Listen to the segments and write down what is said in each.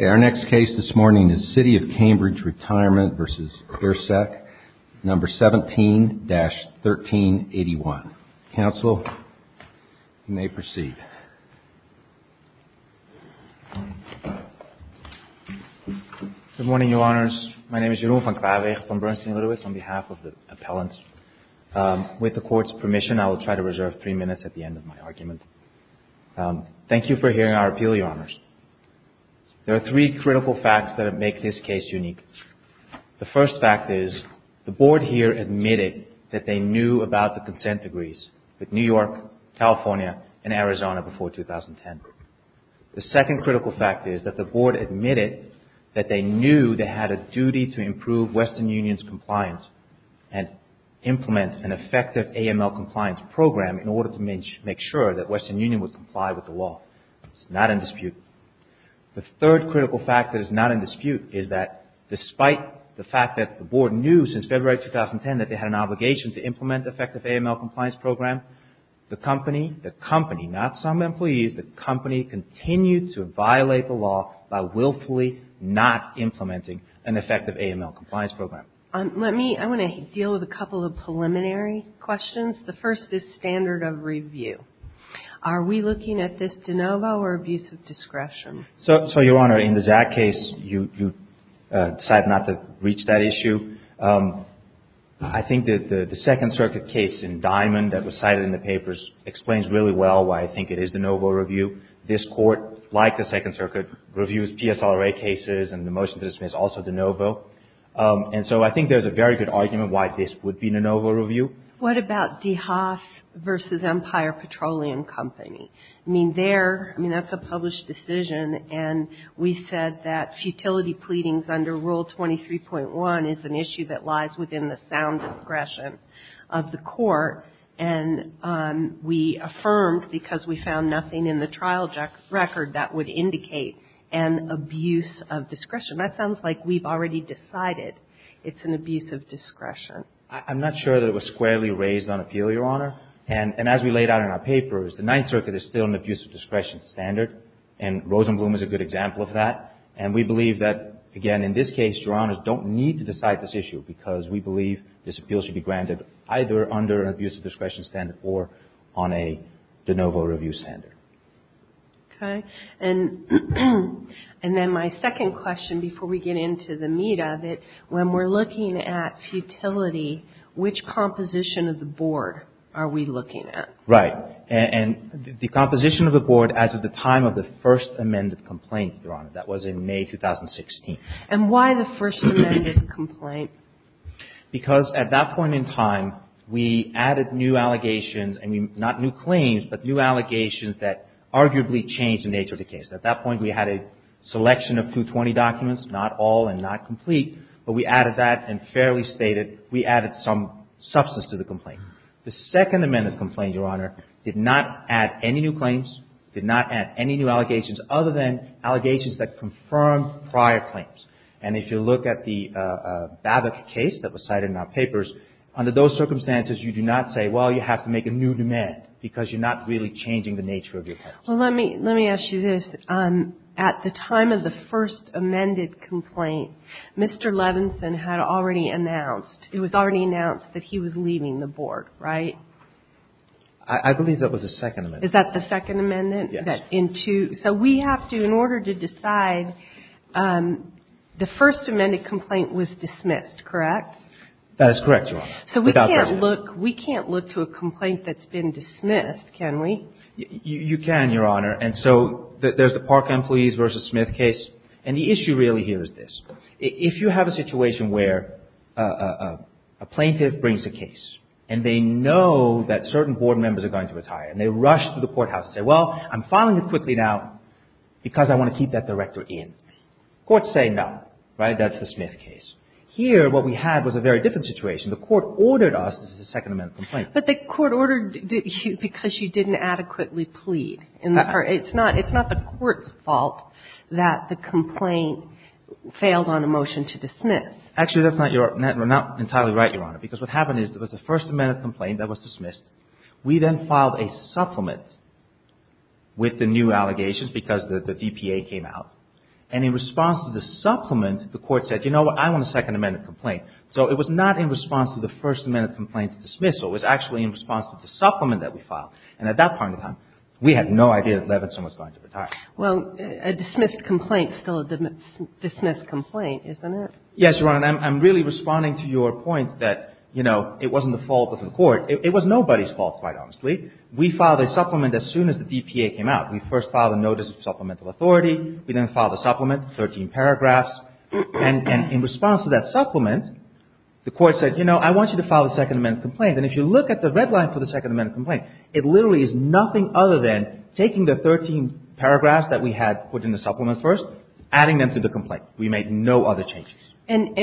Our next case this morning is City of Cambridge Retirement v. Ersek, No. 17-1381. Counsel, you may proceed. Good morning, Your Honors. My name is Jeroen van Klaarwegen from Bernstein-Litowitz on behalf of the appellants. With the Court's permission, I will try to reserve three minutes at the end of my argument. Thank you for hearing our appeal, Your Honors. There are three critical facts that make this case unique. The first fact is the Board here admitted that they knew about the consent degrees with New York, California, and Arizona before 2010. The second critical fact is that the Board admitted that they knew they had a duty to improve Western Union's compliance and implement an effective AML compliance program in order to make sure that Western Union would comply with the law. It's not in dispute. The third critical fact that is not in dispute is that despite the fact that the Board knew since February 2010 that they had an obligation to implement effective AML compliance program, the company, the company, not some employees, the company continued to violate the law by willfully not implementing an effective AML compliance program. Let me, I want to deal with a couple of preliminary questions. The first is standard of review. Are we looking at this de novo or abuse of discretion? So, Your Honor, in the Zack case, you decided not to reach that issue. I think that the Second Circuit case in Diamond that was cited in the papers explains really well why I think it is de novo review. This Court, like the Second Circuit, reviews PSRA cases and the motion to dismiss also de novo. And so I think there's a very good argument why this would be de novo review. What about DeHaas v. Empire Petroleum Company? I mean, there, I mean, that's a published decision. And we said that futility pleadings under Rule 23.1 is an issue that lies within the sound discretion of the Court. And we affirmed because we found nothing in the trial record that would indicate an abuse of discretion. That sounds like we've already decided it's an abuse of discretion. I'm not sure that it was squarely raised on appeal, Your Honor. And as we laid out in our papers, the Ninth Circuit is still an abuse of discretion standard. And Rosenblum is a good example of that. And we believe that, again, in this case, Your Honors, don't need to decide this issue because we believe this appeal should be granted either under an abuse of discretion standard or on a de novo review standard. Okay. And then my second question before we get into the meat of it, when we're looking at futility, which composition of the board are we looking at? Right. And the composition of the board as of the time of the first amended complaint, Your Honor. That was in May 2016. And why the first amended complaint? Because at that point in time, we added new allegations and not new claims, but new allegations that arguably changed the nature of the case. At that point, we had a selection of 220 documents, not all and not complete. But we added that and fairly stated we added some substance to the complaint. The second amended complaint, Your Honor, did not add any new claims, did not add any new allegations other than allegations that confirmed prior claims. And if you look at the Babbitt case that was cited in our papers, under those circumstances, you do not say, well, you have to make a new demand because you're not really changing the nature of your case. Well, let me ask you this. At the time of the first amended complaint, Mr. Levinson had already announced, it was already announced that he was leaving the board, right? I believe that was the second amendment. Is that the second amendment? Yes. So we have to, in order to decide, the first amended complaint was dismissed, correct? That is correct, Your Honor. So we can't look to a complaint that's been dismissed, can we? You can, Your Honor. And so there's the Park employees versus Smith case. And the issue really here is this. If you have a situation where a plaintiff brings a case and they know that certain board members are going to retire and they rush to the court, they're filing it quickly now because I want to keep that director in. Courts say no, right? That's the Smith case. Here, what we had was a very different situation. The court ordered us, this is the second amendment complaint. But the court ordered you because you didn't adequately plead. It's not the court's fault that the complaint failed on a motion to dismiss. Actually, that's not entirely right, Your Honor, because what happened is there was a first amended complaint that was dismissed. We then filed a supplement with the new allegations because the DPA came out. And in response to the supplement, the court said, you know what, I want a second amended complaint. So it was not in response to the first amended complaint to dismiss, so it was actually in response to the supplement that we filed. And at that point in time, we had no idea that Levinson was going to retire. Well, a dismissed complaint is still a dismissed complaint, isn't it? Yes, Your Honor. I'm really responding to your point that, you know, it wasn't the fault of the court. It was nobody's fault, quite honestly. We filed a supplement as soon as the DPA came out. We first filed a notice of supplemental authority. We then filed a supplement, 13 paragraphs. And in response to that supplement, the court said, you know, I want you to file a second amended complaint. And if you look at the red line for the second amended complaint, it literally is nothing other than taking the 13 paragraphs that we had put in the supplement first, adding them to the complaint. We made no other changes. And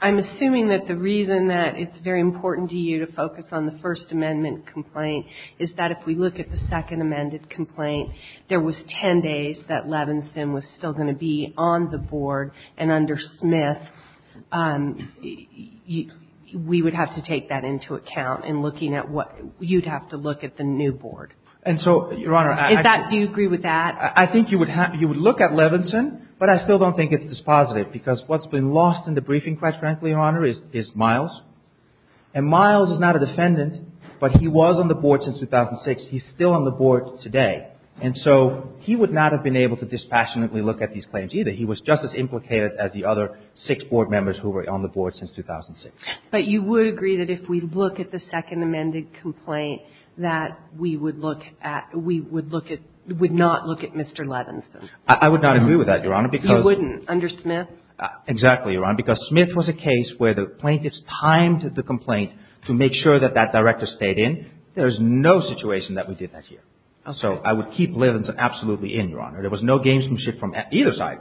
I'm assuming that the reason that it's very important to you to focus on the first amendment complaint is that if we look at the second amended complaint, there was 10 days that Levinson was still going to be on the board. And under Smith, we would have to take that into account in looking at what you'd have to look at the new board. And so, Your Honor, I think you would have to look at Levinson, but I still don't think it's dispositive. Because what's been lost in the briefing, quite frankly, Your Honor, is Miles. And Miles is not a defendant, but he was on the board since 2006. He's still on the board today. And so he would not have been able to dispassionately look at these claims either. He was just as implicated as the other six board members who were on the board since 2006. But you would agree that if we look at the second amended complaint, that we would look at – we would look at – would not look at Mr. Levinson? I would not agree with that, Your Honor, because – Exactly, Your Honor. Because Smith was a case where the plaintiffs timed the complaint to make sure that that director stayed in. There is no situation that we did that here. So I would keep Levinson absolutely in, Your Honor. There was no gamesmanship from either side.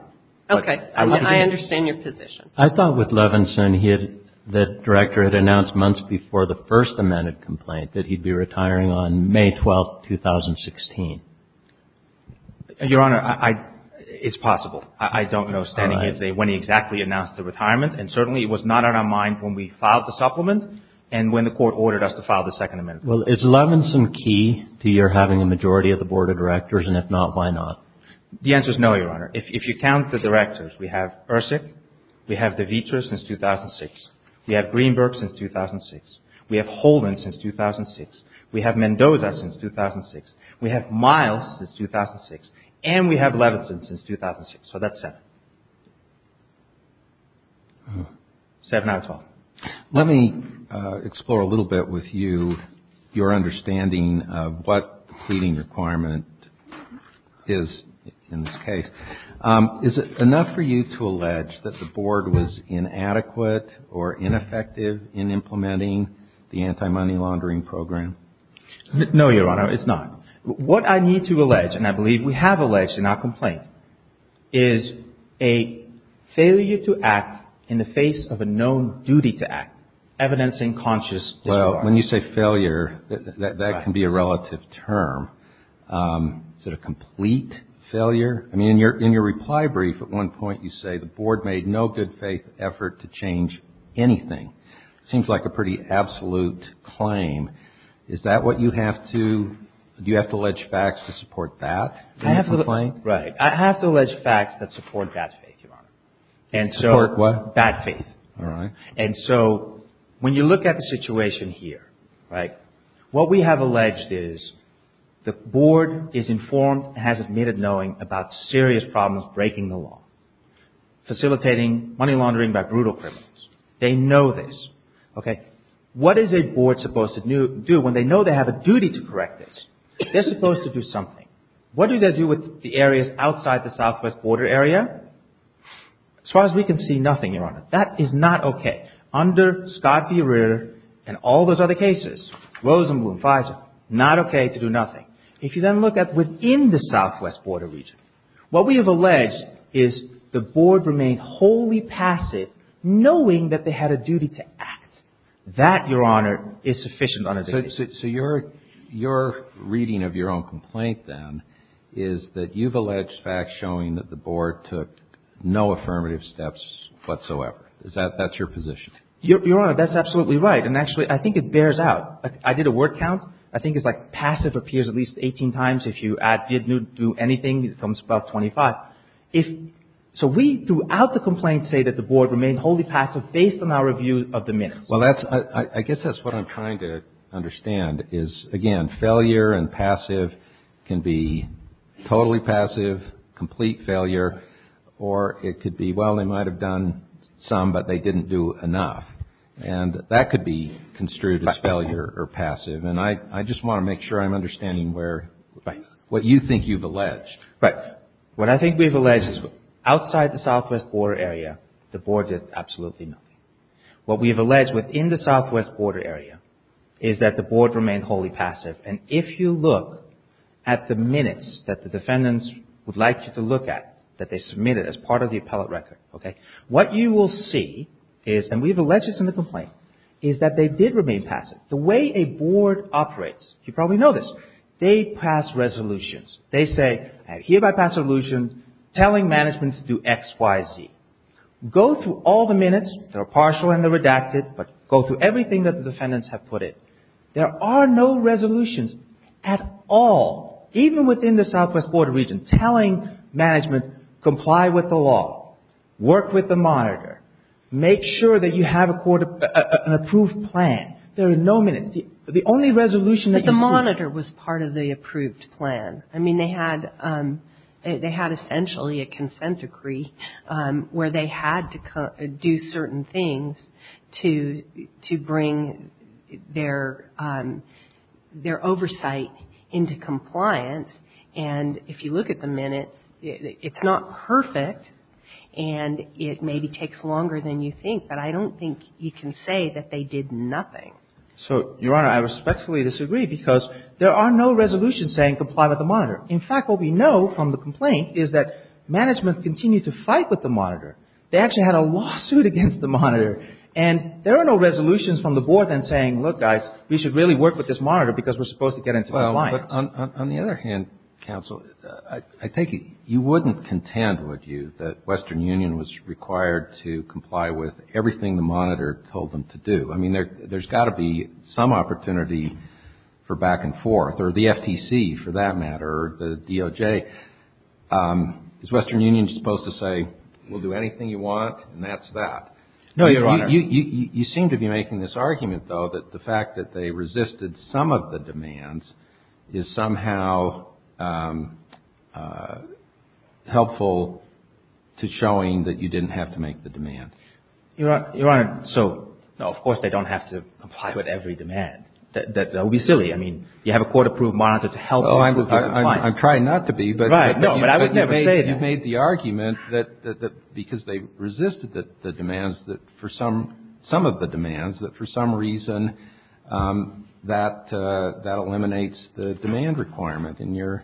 Okay. I mean, I understand your position. I thought with Levinson, he had – the director had announced months before the first amended complaint that he'd be retiring on May 12, 2016. Your Honor, I – it's possible. I don't know standing here today when he exactly announced the retirement. And certainly it was not on our mind when we filed the supplement and when the court ordered us to file the second amended complaint. Well, is Levinson key to your having a majority of the board of directors? And if not, why not? The answer is no, Your Honor. If you count the directors, we have Ersic. We have Devitra since 2006. We have Greenberg since 2006. We have Holden since 2006. We have Mendoza since 2006. We have Miles since 2006. And we have Levinson since 2006. So that's seven. Seven out of 12. Let me explore a little bit with you your understanding of what the pleading requirement is in this case. Is it enough for you to allege that the board was inadequate or ineffective in implementing the anti-money laundering program? No, Your Honor. It's not. What I need to allege, and I believe we have alleged in our complaint, is a failure to act in the face of a known duty to act. Evidence in conscious disregard. Well, when you say failure, that can be a relative term. Is it a complete failure? I mean, in your reply brief at one point you say the board made no good faith effort to change anything. It seems like a pretty absolute claim. Is that what you have to, do you have to allege facts to support that in your complaint? Right. I have to allege facts that support bad faith, Your Honor. And so. Support what? Bad faith. All right. And so when you look at the situation here, right, what we have alleged is the board is informed and has admitted knowing about serious problems breaking the law, facilitating money laundering by brutal criminals. They know this. Okay. What is a board supposed to do when they know they have a duty to correct this? They're supposed to do something. What do they do with the areas outside the southwest border area? As far as we can see, nothing, Your Honor. That is not okay. Under Scott v. Rear and all those other cases, Rosenblum, FISA, not okay to do nothing. If you then look at within the southwest border region, what we have alleged is the board remained wholly passive knowing that they had a duty to act. That, Your Honor, is sufficient on a daily basis. So your reading of your own complaint, then, is that you've alleged facts showing that the board took no affirmative steps whatsoever. Is that your position? Your Honor, that's absolutely right. And actually, I think it bears out. I did a word count. I think it's like passive appears at least 18 times. If you add did, knew, do anything, it comes about 25. So we, throughout the complaint, say that the board remained wholly passive based on our review of the minutes. Well, I guess that's what I'm trying to understand is, again, failure and passive can be totally passive, complete failure, or it could be, well, they might have done some, but they didn't do enough. And that could be construed as failure or passive. And I just want to make sure I'm understanding what you think you've alleged. Right. What I think we've alleged is outside the southwest border area, the board did absolutely nothing. What we've alleged within the southwest border area is that the board remained wholly passive. And if you look at the minutes that the defendants would like you to look at, that they submitted as part of the appellate record, okay, what you will see is, and we've alleged this in the complaint, is that they did remain passive. The way a board operates, you probably know this, they pass resolutions. They say, I hereby pass a resolution telling management to do X, Y, Z. Go through all the minutes. They're partial and they're redacted, but go through everything that the defendants have put in. There are no resolutions at all, even within the southwest border region, telling management comply with the law, work with the monitor, make sure that you have an approved plan. There are no minutes. But the monitor was part of the approved plan. I mean, they had essentially a consent decree where they had to do certain things to bring their oversight into compliance. And if you look at the minutes, it's not perfect and it maybe takes longer than you think, but I don't think you can say that they did nothing. So, Your Honor, I respectfully disagree because there are no resolutions saying comply with the monitor. In fact, what we know from the complaint is that management continued to fight with the monitor. They actually had a lawsuit against the monitor and there are no resolutions from the board then saying, look, guys, we should really work with this monitor because we're supposed to get into compliance. Well, but on the other hand, counsel, I take it you wouldn't contend, would you, that Western Union was required to comply with everything the monitor told them to do. I mean, there's got to be some opportunity for back and forth or the FTC, for that matter, the DOJ. Is Western Union supposed to say, we'll do anything you want and that's that? No, Your Honor. You seem to be making this argument, though, that the fact that they resisted some of the demands is somehow helpful to showing that you didn't have to make the demand. Your Honor, so, no, of course they don't have to comply with every demand. That would be silly. I mean, you have a court-approved monitor to help you with compliance. I'm trying not to be, but you've made the argument that because they resisted the demands, that for some of the demands, that for some reason that eliminates the demand requirement in your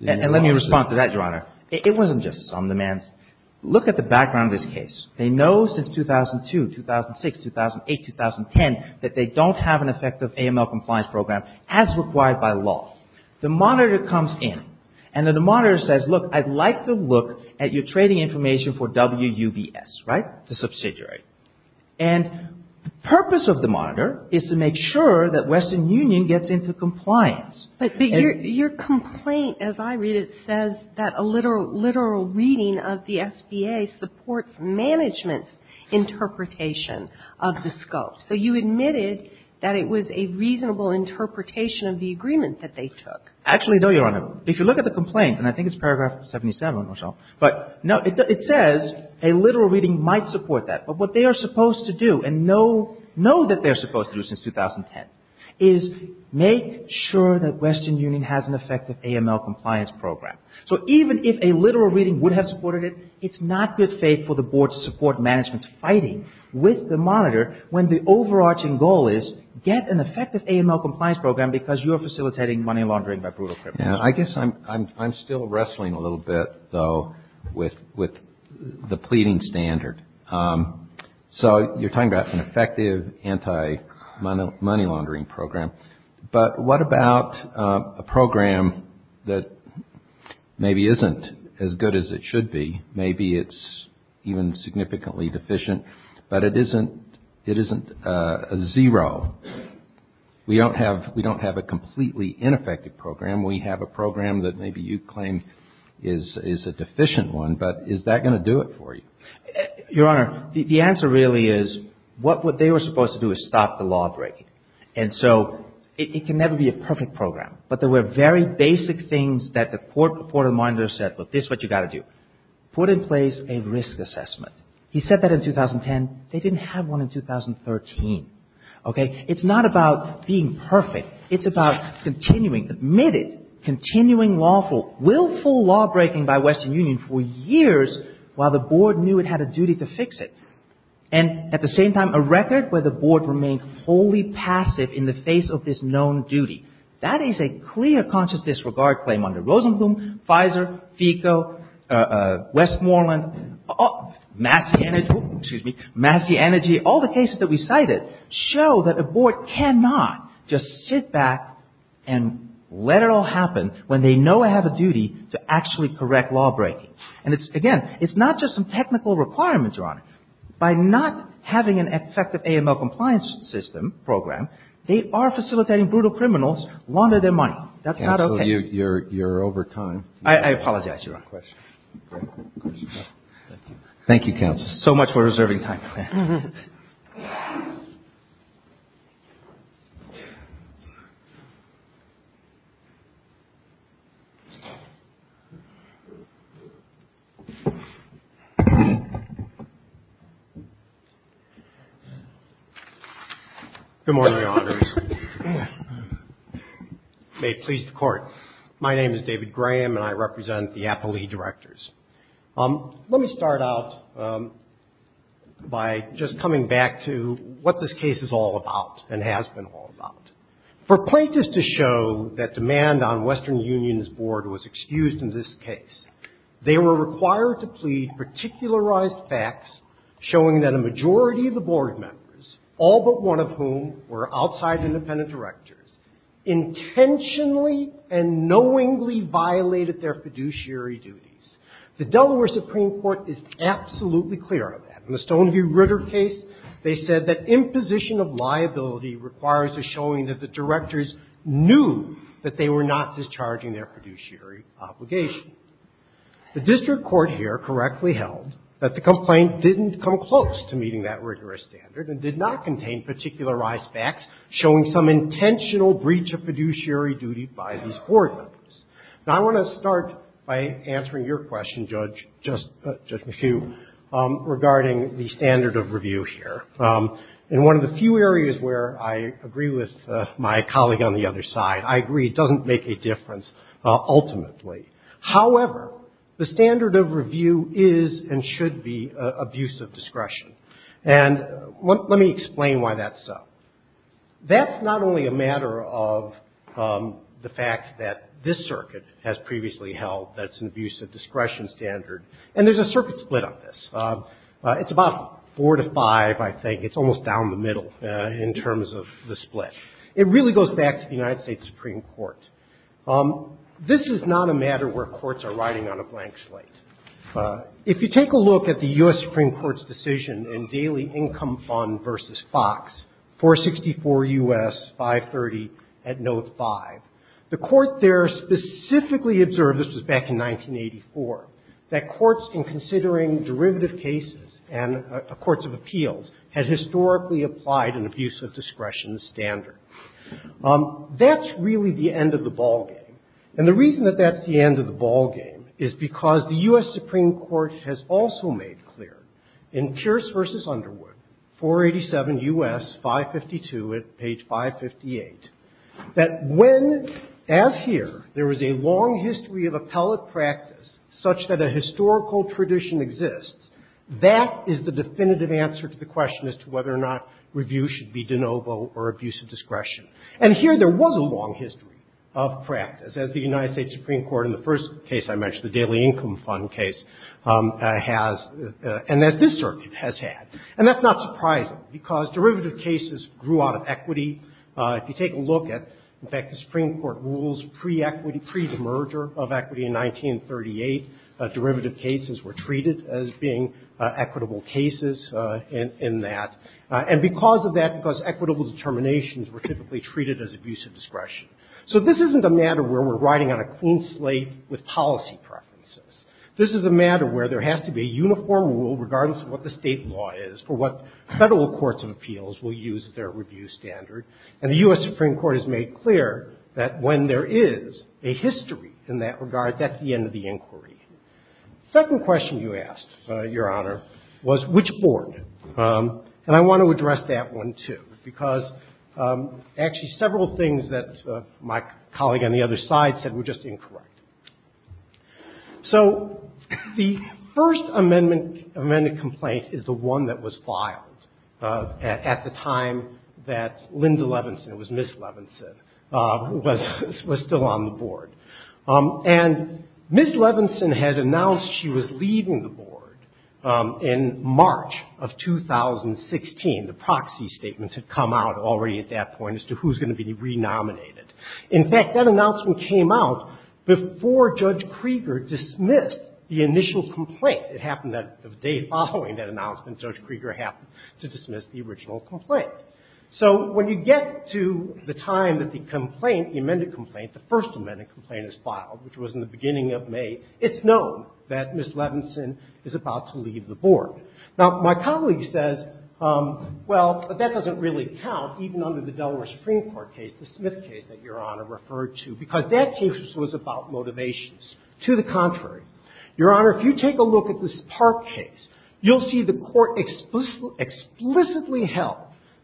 lawsuit. And let me respond to that, Your Honor. It wasn't just some demands. Look at the background of this case. They know since 2002, 2006, 2008, 2010, that they don't have an effective AML compliance program as required by law. The monitor comes in and the monitor says, look, I'd like to look at your trading information for WUVS, right, the subsidiary. And the purpose of the monitor is to make sure that Western Union gets into compliance. But your complaint, as I read it, says that a literal reading of the SBA supports management's interpretation of the scope. So you admitted that it was a reasonable interpretation of the agreement that they took. Actually, no, Your Honor. If you look at the complaint, and I think it's paragraph 77 or so, but it says a literal reading might support that. But what they are supposed to do, and know that they're supposed to do since 2010, is make sure that Western Union has an effective AML compliance program. So even if a literal reading would have supported it, it's not good faith for the board to support management's fighting with the monitor when the overarching goal is get an effective AML compliance program because you're facilitating money laundering by brutal criminals. I guess I'm still wrestling a little bit, though, with the pleading standard. So you're talking about an effective anti-money laundering program. But what about a program that maybe isn't as good as it should be? Maybe it's even significantly deficient, but it isn't a zero. We don't have a completely ineffective program. We have a program that maybe you claim is a deficient one, but is that going to do it for you? Your Honor, the answer really is what they were supposed to do is stop the law breaking. And so it can never be a perfect program. But there were very basic things that the court of reminders said, look, this is what you've got to do. Put in place a risk assessment. He said that in 2010. They didn't have one in 2013. Okay. It's not about being perfect. It's about continuing, committed, continuing lawful, willful law breaking by Western Union for years while the board knew it had a duty to fix it. And at the same time, a record where the board remained wholly passive in the face of this known duty. That is a clear conscious disregard claim under Rosenblum, Pfizer, FECO, Westmoreland, Massey Energy, all the cases that we cited. Show that a board cannot just sit back and let it all happen when they know it has a duty to actually correct law breaking. And again, it's not just some technical requirements, Your Honor. By not having an effective AML compliance system program, they are facilitating brutal criminals launder their money. That's not okay. Counsel, you're over time. I apologize, Your Honor. Thank you, counsel. So much for reserving time. Thank you. Good morning, Your Honors. May it please the Court. My name is David Graham, and I represent the Applee Directors. Let me start out by just coming back to what this case is all about and has been all about. For plaintiffs to show that demand on Western Union's board was excused in this case, they were required to plead particularized facts showing that a majority of the board members, all but one of whom were outside independent directors, intentionally and knowingly violated their fiduciary duties. The Delaware Supreme Court is absolutely clear on that. In the Stoneview Ritter case, they said that imposition of liability requires a showing that the directors knew that they were not discharging their fiduciary obligation. The district court here correctly held that the complaint didn't come close to meeting that rigorous standard and did not contain particularized facts showing some intentional breach of fiduciary duty by these board members. Now, I want to start by answering your question, Judge McHugh, regarding the standard of review here. In one of the few areas where I agree with my colleague on the other side, I agree it doesn't make a difference ultimately. However, the standard of review is and should be of use of discretion. And let me explain why that's so. That's not only a matter of the fact that this circuit has previously held that it's an abuse of discretion standard, and there's a circuit split on this. It's about four to five, I think. It's almost down the middle in terms of the split. It really goes back to the United States Supreme Court. This is not a matter where courts are riding on a blank slate. If you take a look at the U.S. Supreme Court's decision in Daily Income Fund v. Fox, 464 U.S., 530, at Note 5, the court there specifically observed, this was back in 1984, that courts in considering derivative cases and courts of appeals had historically applied an abuse of discretion standard. That's really the end of the ballgame. And the reason that that's the end of the ballgame is because the U.S. Supreme Court has also made clear in Pierce v. Underwood, 487 U.S., 552, at page 558, that when, as here, there is a long history of appellate practice such that a historical tradition exists, that is the definitive answer to the question as to whether or not review should be de novo or abuse of discretion. And here there was a long history of practice, as the United States Supreme Court in the first case I mentioned, the Daily Income Fund case, has, and as this circuit has had. And that's not surprising, because derivative cases grew out of equity. If you take a look at, in fact, the Supreme Court rules pre-equity, pre-demerger of equity in 1938, derivative cases were treated as being equitable cases in that. And because of that, because equitable determinations were typically treated as abuse of discretion. So this isn't a matter where we're riding on a clean slate with policy preferences. This is a matter where there has to be a uniform rule, regardless of what the State law is, for what Federal courts of appeals will use as their review standard. And the U.S. Supreme Court has made clear that when there is a history in that regard, that's the end of the inquiry. The second question you asked, Your Honor, was which board. And I want to address that one, too, because actually several things that my colleague on the other side said were just incorrect. So the First Amendment complaint is the one that was filed at the time that Linda Levinson, it was Ms. Levinson, was still on the board. And Ms. Levinson had announced she was leaving the board in March of 2016. The proxy statements had come out already at that point as to who's going to be re-nominated. In fact, that announcement came out before Judge Krieger dismissed the initial complaint. It happened that the day following that announcement, Judge Krieger happened to dismiss the original complaint. So when you get to the time that the complaint, the amended complaint, the First Amendment complaint is filed, which was in the beginning of May, it's known that Ms. Levinson is about to leave the board. Now, my colleague says, well, that doesn't really count, even under the Delaware Supreme Court case, the Smith case that Your Honor referred to, because that case was about motivations. To the contrary, Your Honor, if you take a look at this Park case, you'll see the Court explicitly held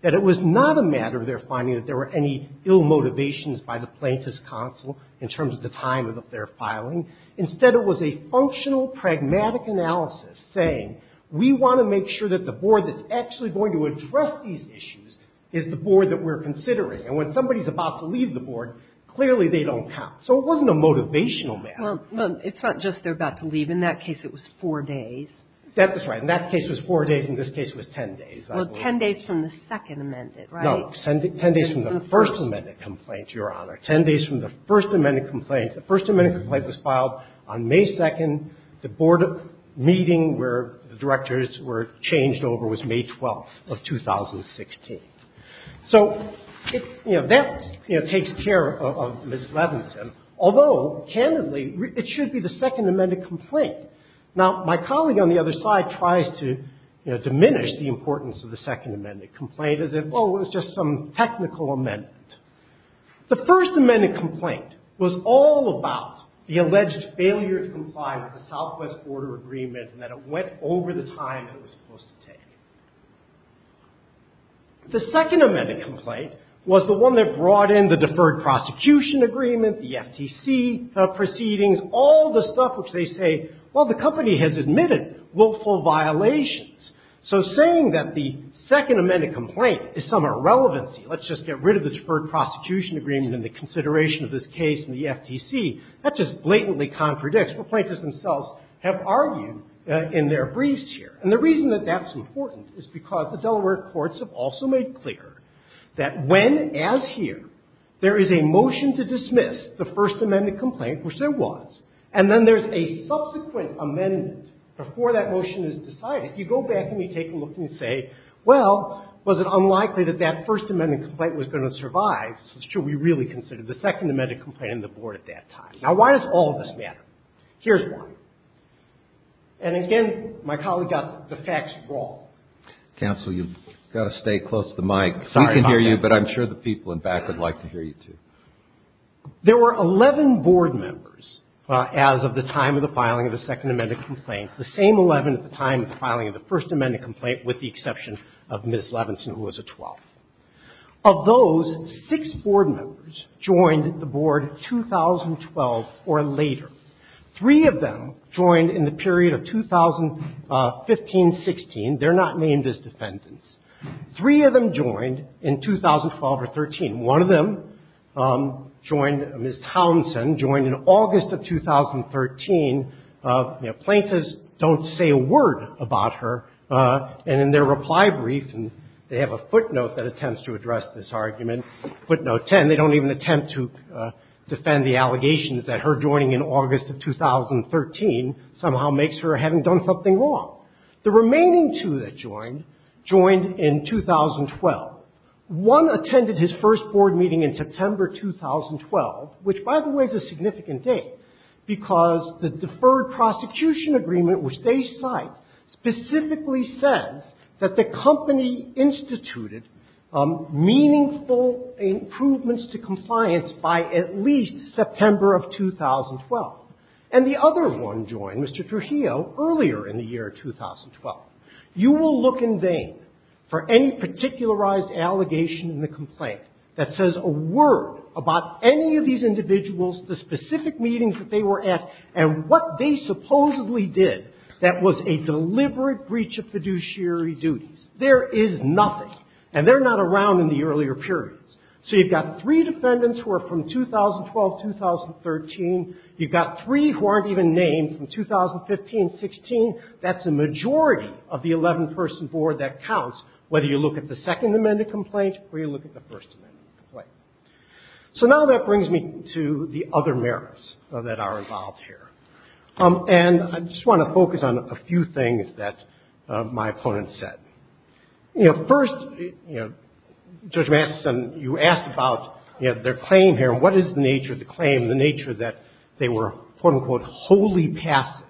that it was not a matter of their finding that there were any ill motivations by the plaintiff's counsel in terms of the time of their filing. Instead, it was a functional, pragmatic analysis saying we want to make sure that the board that's actually going to address these issues is the board that we're considering. And when somebody's about to leave the board, clearly they don't count. So it wasn't a motivational matter. Well, it's not just they're about to leave. In that case, it was four days. That is right. In that case, it was four days. In this case, it was ten days. Well, ten days from the second amended, right? No, ten days from the First Amendment complaint, Your Honor. Ten days from the First Amendment complaint. The First Amendment complaint was filed on May 2nd. The board meeting where the directors were changed over was May 12th of 2016. So, you know, that, you know, takes care of Ms. Levenson. Although, candidly, it should be the second amended complaint. Now, my colleague on the other side tries to, you know, diminish the importance of the second amended complaint as if, oh, it was just some technical amendment. The First Amendment complaint was all about the alleged failure to comply with the Southwest Border Agreement and that it went over the time it was supposed to take. The second amended complaint was the one that brought in the Deferred Prosecution Agreement, the FTC proceedings, all the stuff which they say, well, the company has admitted willful violations. So saying that the second amended complaint is some irrelevancy, let's just get rid of the Deferred Prosecution Agreement and the consideration of this case in the FTC, that just blatantly contradicts. The plaintiffs themselves have argued in their briefs here. And the reason that that's important is because the Delaware courts have also made clear that when, as here, there is a motion to dismiss the First Amendment complaint, which there was, and then there's a subsequent amendment before that motion is decided, you go back and you take a look and you say, well, was it unlikely that that First Amendment complaint was going to survive? So should we really consider the second amended complaint in the board at that time? Now, why does all of this matter? Here's one. And again, my colleague got the facts wrong. Counsel, you've got to stay close to the mic. Sorry about that. We can hear you, but I'm sure the people in back would like to hear you, too. There were 11 board members as of the time of the filing of the second amended complaint, the same 11 at the time of the filing of the First Amendment complaint with the exception of Ms. Levinson, who was a 12th. Of those, six board members joined the board 2012 or later. Three of them joined in the period of 2015-16. They're not named as defendants. Three of them joined in 2012 or 13. One of them joined, Ms. Townsend, joined in August of 2013. Plaintiffs don't say a word about her. And in their reply brief, they have a footnote that attempts to address this argument, footnote 10. They don't even attempt to defend the allegations that her joining in August of 2013 somehow makes her having done something wrong. The remaining two that joined, joined in 2012. One attended his first board meeting in September 2012, which, by the way, is a significant date, because the Deferred Prosecution Agreement, which they cite, specifically says that the company instituted meaningful improvements to compliance by at least September of 2012. And the other one joined, Mr. Trujillo, earlier in the year 2012. You will look in vain for any particularized allegation in the complaint that says a word about any of these individuals, the specific meetings that they were at, and what they supposedly did that was a deliberate breach of fiduciary duties. There is nothing. And they're not around in the earlier periods. So you've got three defendants who are from 2012-2013. You've got three who aren't even named from 2015-16. That's a majority of the 11-person board that counts, whether you look at the Second Amendment complaint. So now that brings me to the other merits that are involved here. And I just want to focus on a few things that my opponent said. You know, first, you know, Judge Matheson, you asked about, you know, their claim here, and what is the nature of the claim, the nature that they were, quote-unquote, wholly passive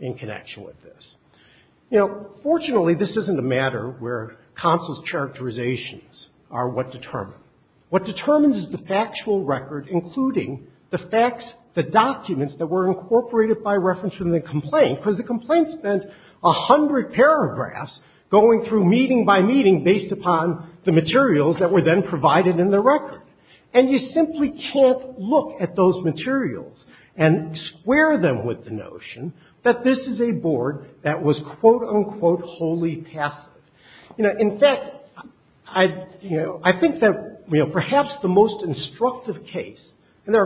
in connection with this. You know, fortunately, this isn't a matter where counsel's characterizations are what determine. What determines is the factual record, including the facts, the documents that were incorporated by reference from the complaint, because the complaint spent a hundred paragraphs going through meeting by meeting based upon the materials that were then provided in the record. And you simply can't look at those materials and square them with the notion that this is a board that was, quote-unquote, wholly passive. You know, in fact, you know, I think that, you know, perhaps the most instructive case, and there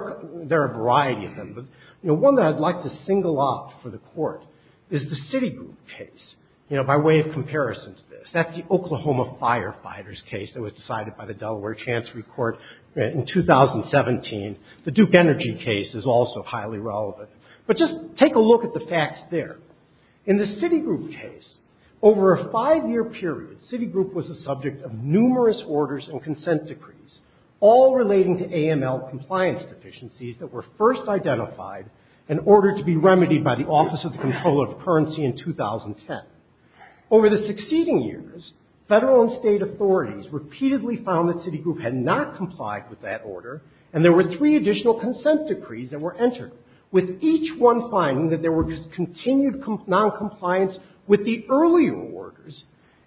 are a variety of them, but, you know, one that I'd like to single out for the Court is the Citigroup case, you know, by way of comparison to this. That's the Oklahoma firefighters case that was decided by the Delaware Chancery Court in 2017. The Duke Energy case is also highly relevant. But just take a look at the facts there. In the Citigroup case, over a five-year period, Citigroup was the subject of numerous orders and consent decrees, all relating to AML compliance deficiencies that were first identified and ordered to be remedied by the Office of the Control of Currency in 2010. Over the succeeding years, federal and state authorities repeatedly found that Citigroup had not complied with that order, and there were three additional consent decrees that were entered, with each one finding that there was continued noncompliance with the earlier orders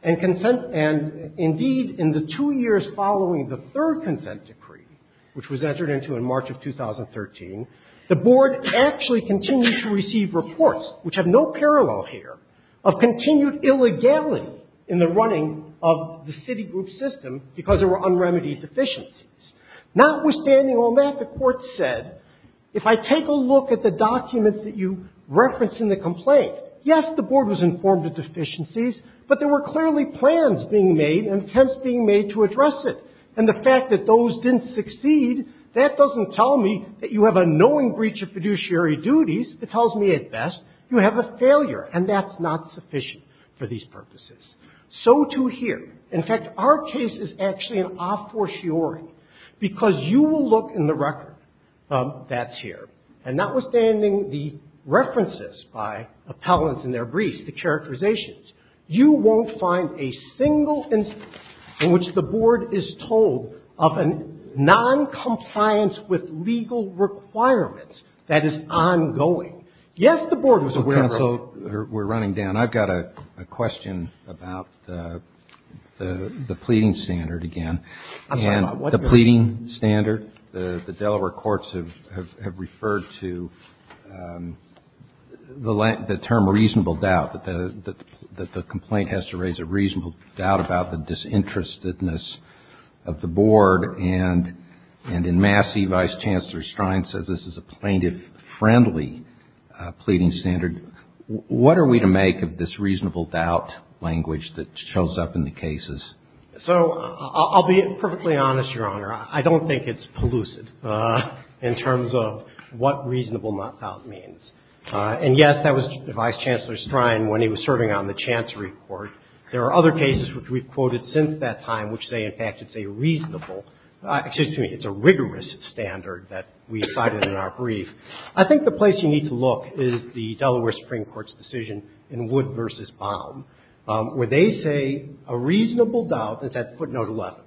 and consent, and indeed, in the two years following the third consent decree, which was entered into in March of 2013, the Board actually continued to receive reports, which have no parallel here, of continued illegality in the running of the Citigroup system because there were unremedied deficiencies. Notwithstanding all that, the Court said, if I take a look at the documents that you reference in the complaint, yes, the Board was informed of deficiencies, but there were clearly plans being made and attempts being made to address it. And the fact that those didn't succeed, that doesn't tell me that you have a knowing breach of fiduciary duties. It tells me, at best, you have a failure, and that's not sufficient for these purposes. So, too, here. In fact, our case is actually an a fortiori, because you will look in the record that's here, and notwithstanding the references by appellants and their briefs, the characterizations, you won't find a single instance in which the Board is told of a noncompliance with legal requirements that is ongoing. Yes, the Board was aware of it. The pleading standard again. I'm sorry. The pleading standard, the Delaware courts have referred to the term reasonable doubt, that the complaint has to raise a reasonable doubt about the disinterestedness of the Board. And in Massey, Vice Chancellor Strine says this is a plaintiff-friendly pleading standard. What are we to make of this reasonable doubt language that shows up in the cases? So, I'll be perfectly honest, Your Honor. I don't think it's pellucid in terms of what reasonable doubt means. And, yes, that was Vice Chancellor Strine when he was serving on the Chancery Court. There are other cases which we've quoted since that time which say, in fact, it's a reasonable, excuse me, it's a rigorous standard that we cited in our brief. I think the place you need to look is the Delaware Supreme Court's decision in Wood v. Baum, where they say a reasonable doubt, it's at footnote 11,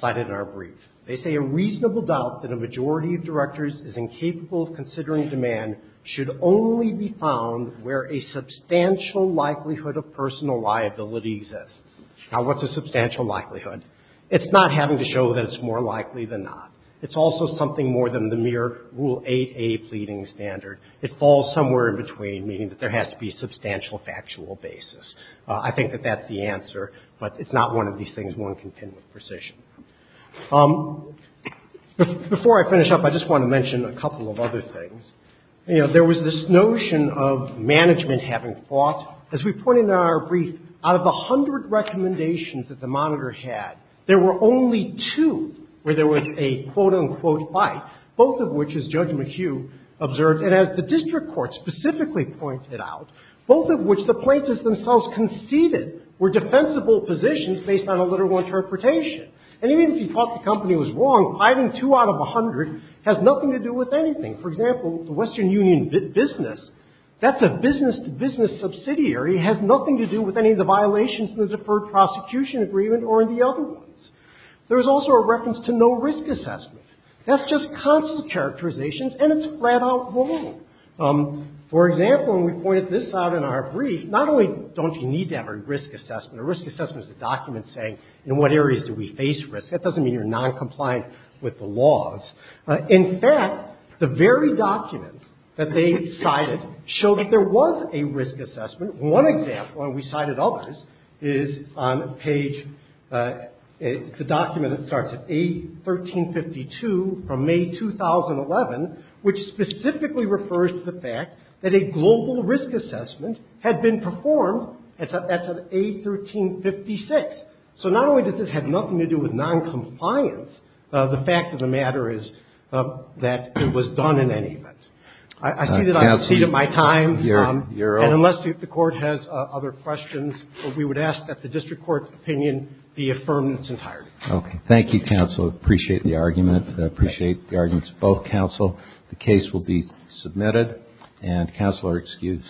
cited in our brief. They say a reasonable doubt that a majority of directors is incapable of considering demand should only be found where a substantial likelihood of personal liability exists. Now, what's a substantial likelihood? It's not having to show that it's more likely than not. It's also something more than the mere Rule 8a pleading standard. It falls somewhere in between, meaning that there has to be substantial factual basis. I think that that's the answer. But it's not one of these things one can pin with precision. Before I finish up, I just want to mention a couple of other things. You know, there was this notion of management having fought. As we point in our brief, out of the hundred recommendations that the Monitor had, there were only two where there was a quote-unquote fight, both of which, as Judge McHugh observed, and as the district court specifically pointed out, both of which the plaintiffs themselves conceded were defensible positions based on a literal interpretation. And even if you thought the company was wrong, hiding two out of a hundred has nothing to do with anything. For example, the Western Union business, that's a business-to-business subsidiary, has nothing to do with any of the violations in the deferred prosecution agreement or in the other ones. There was also a reference to no risk assessment. That's just constant characterizations, and it's flat-out wrong. For example, and we pointed this out in our brief, not only don't you need to have a risk assessment, a risk assessment is a document saying in what areas do we face risk. That doesn't mean you're noncompliant with the laws. In fact, the very documents that they cited show that there was a risk assessment. One example, and we cited others, is on page, it's a document that starts at A1352 from May 2011, which specifically refers to the fact that a global risk assessment had been performed at A1356. So not only does this have nothing to do with noncompliance, the fact of the matter is that it was done in any event. I see that I've exceeded my time. And unless the Court has other questions, we would ask that the district court's opinion be affirmed in its entirety. Okay. Thank you, counsel. I appreciate the argument. I appreciate the arguments of both counsel. The case will be submitted, and counsel are excused.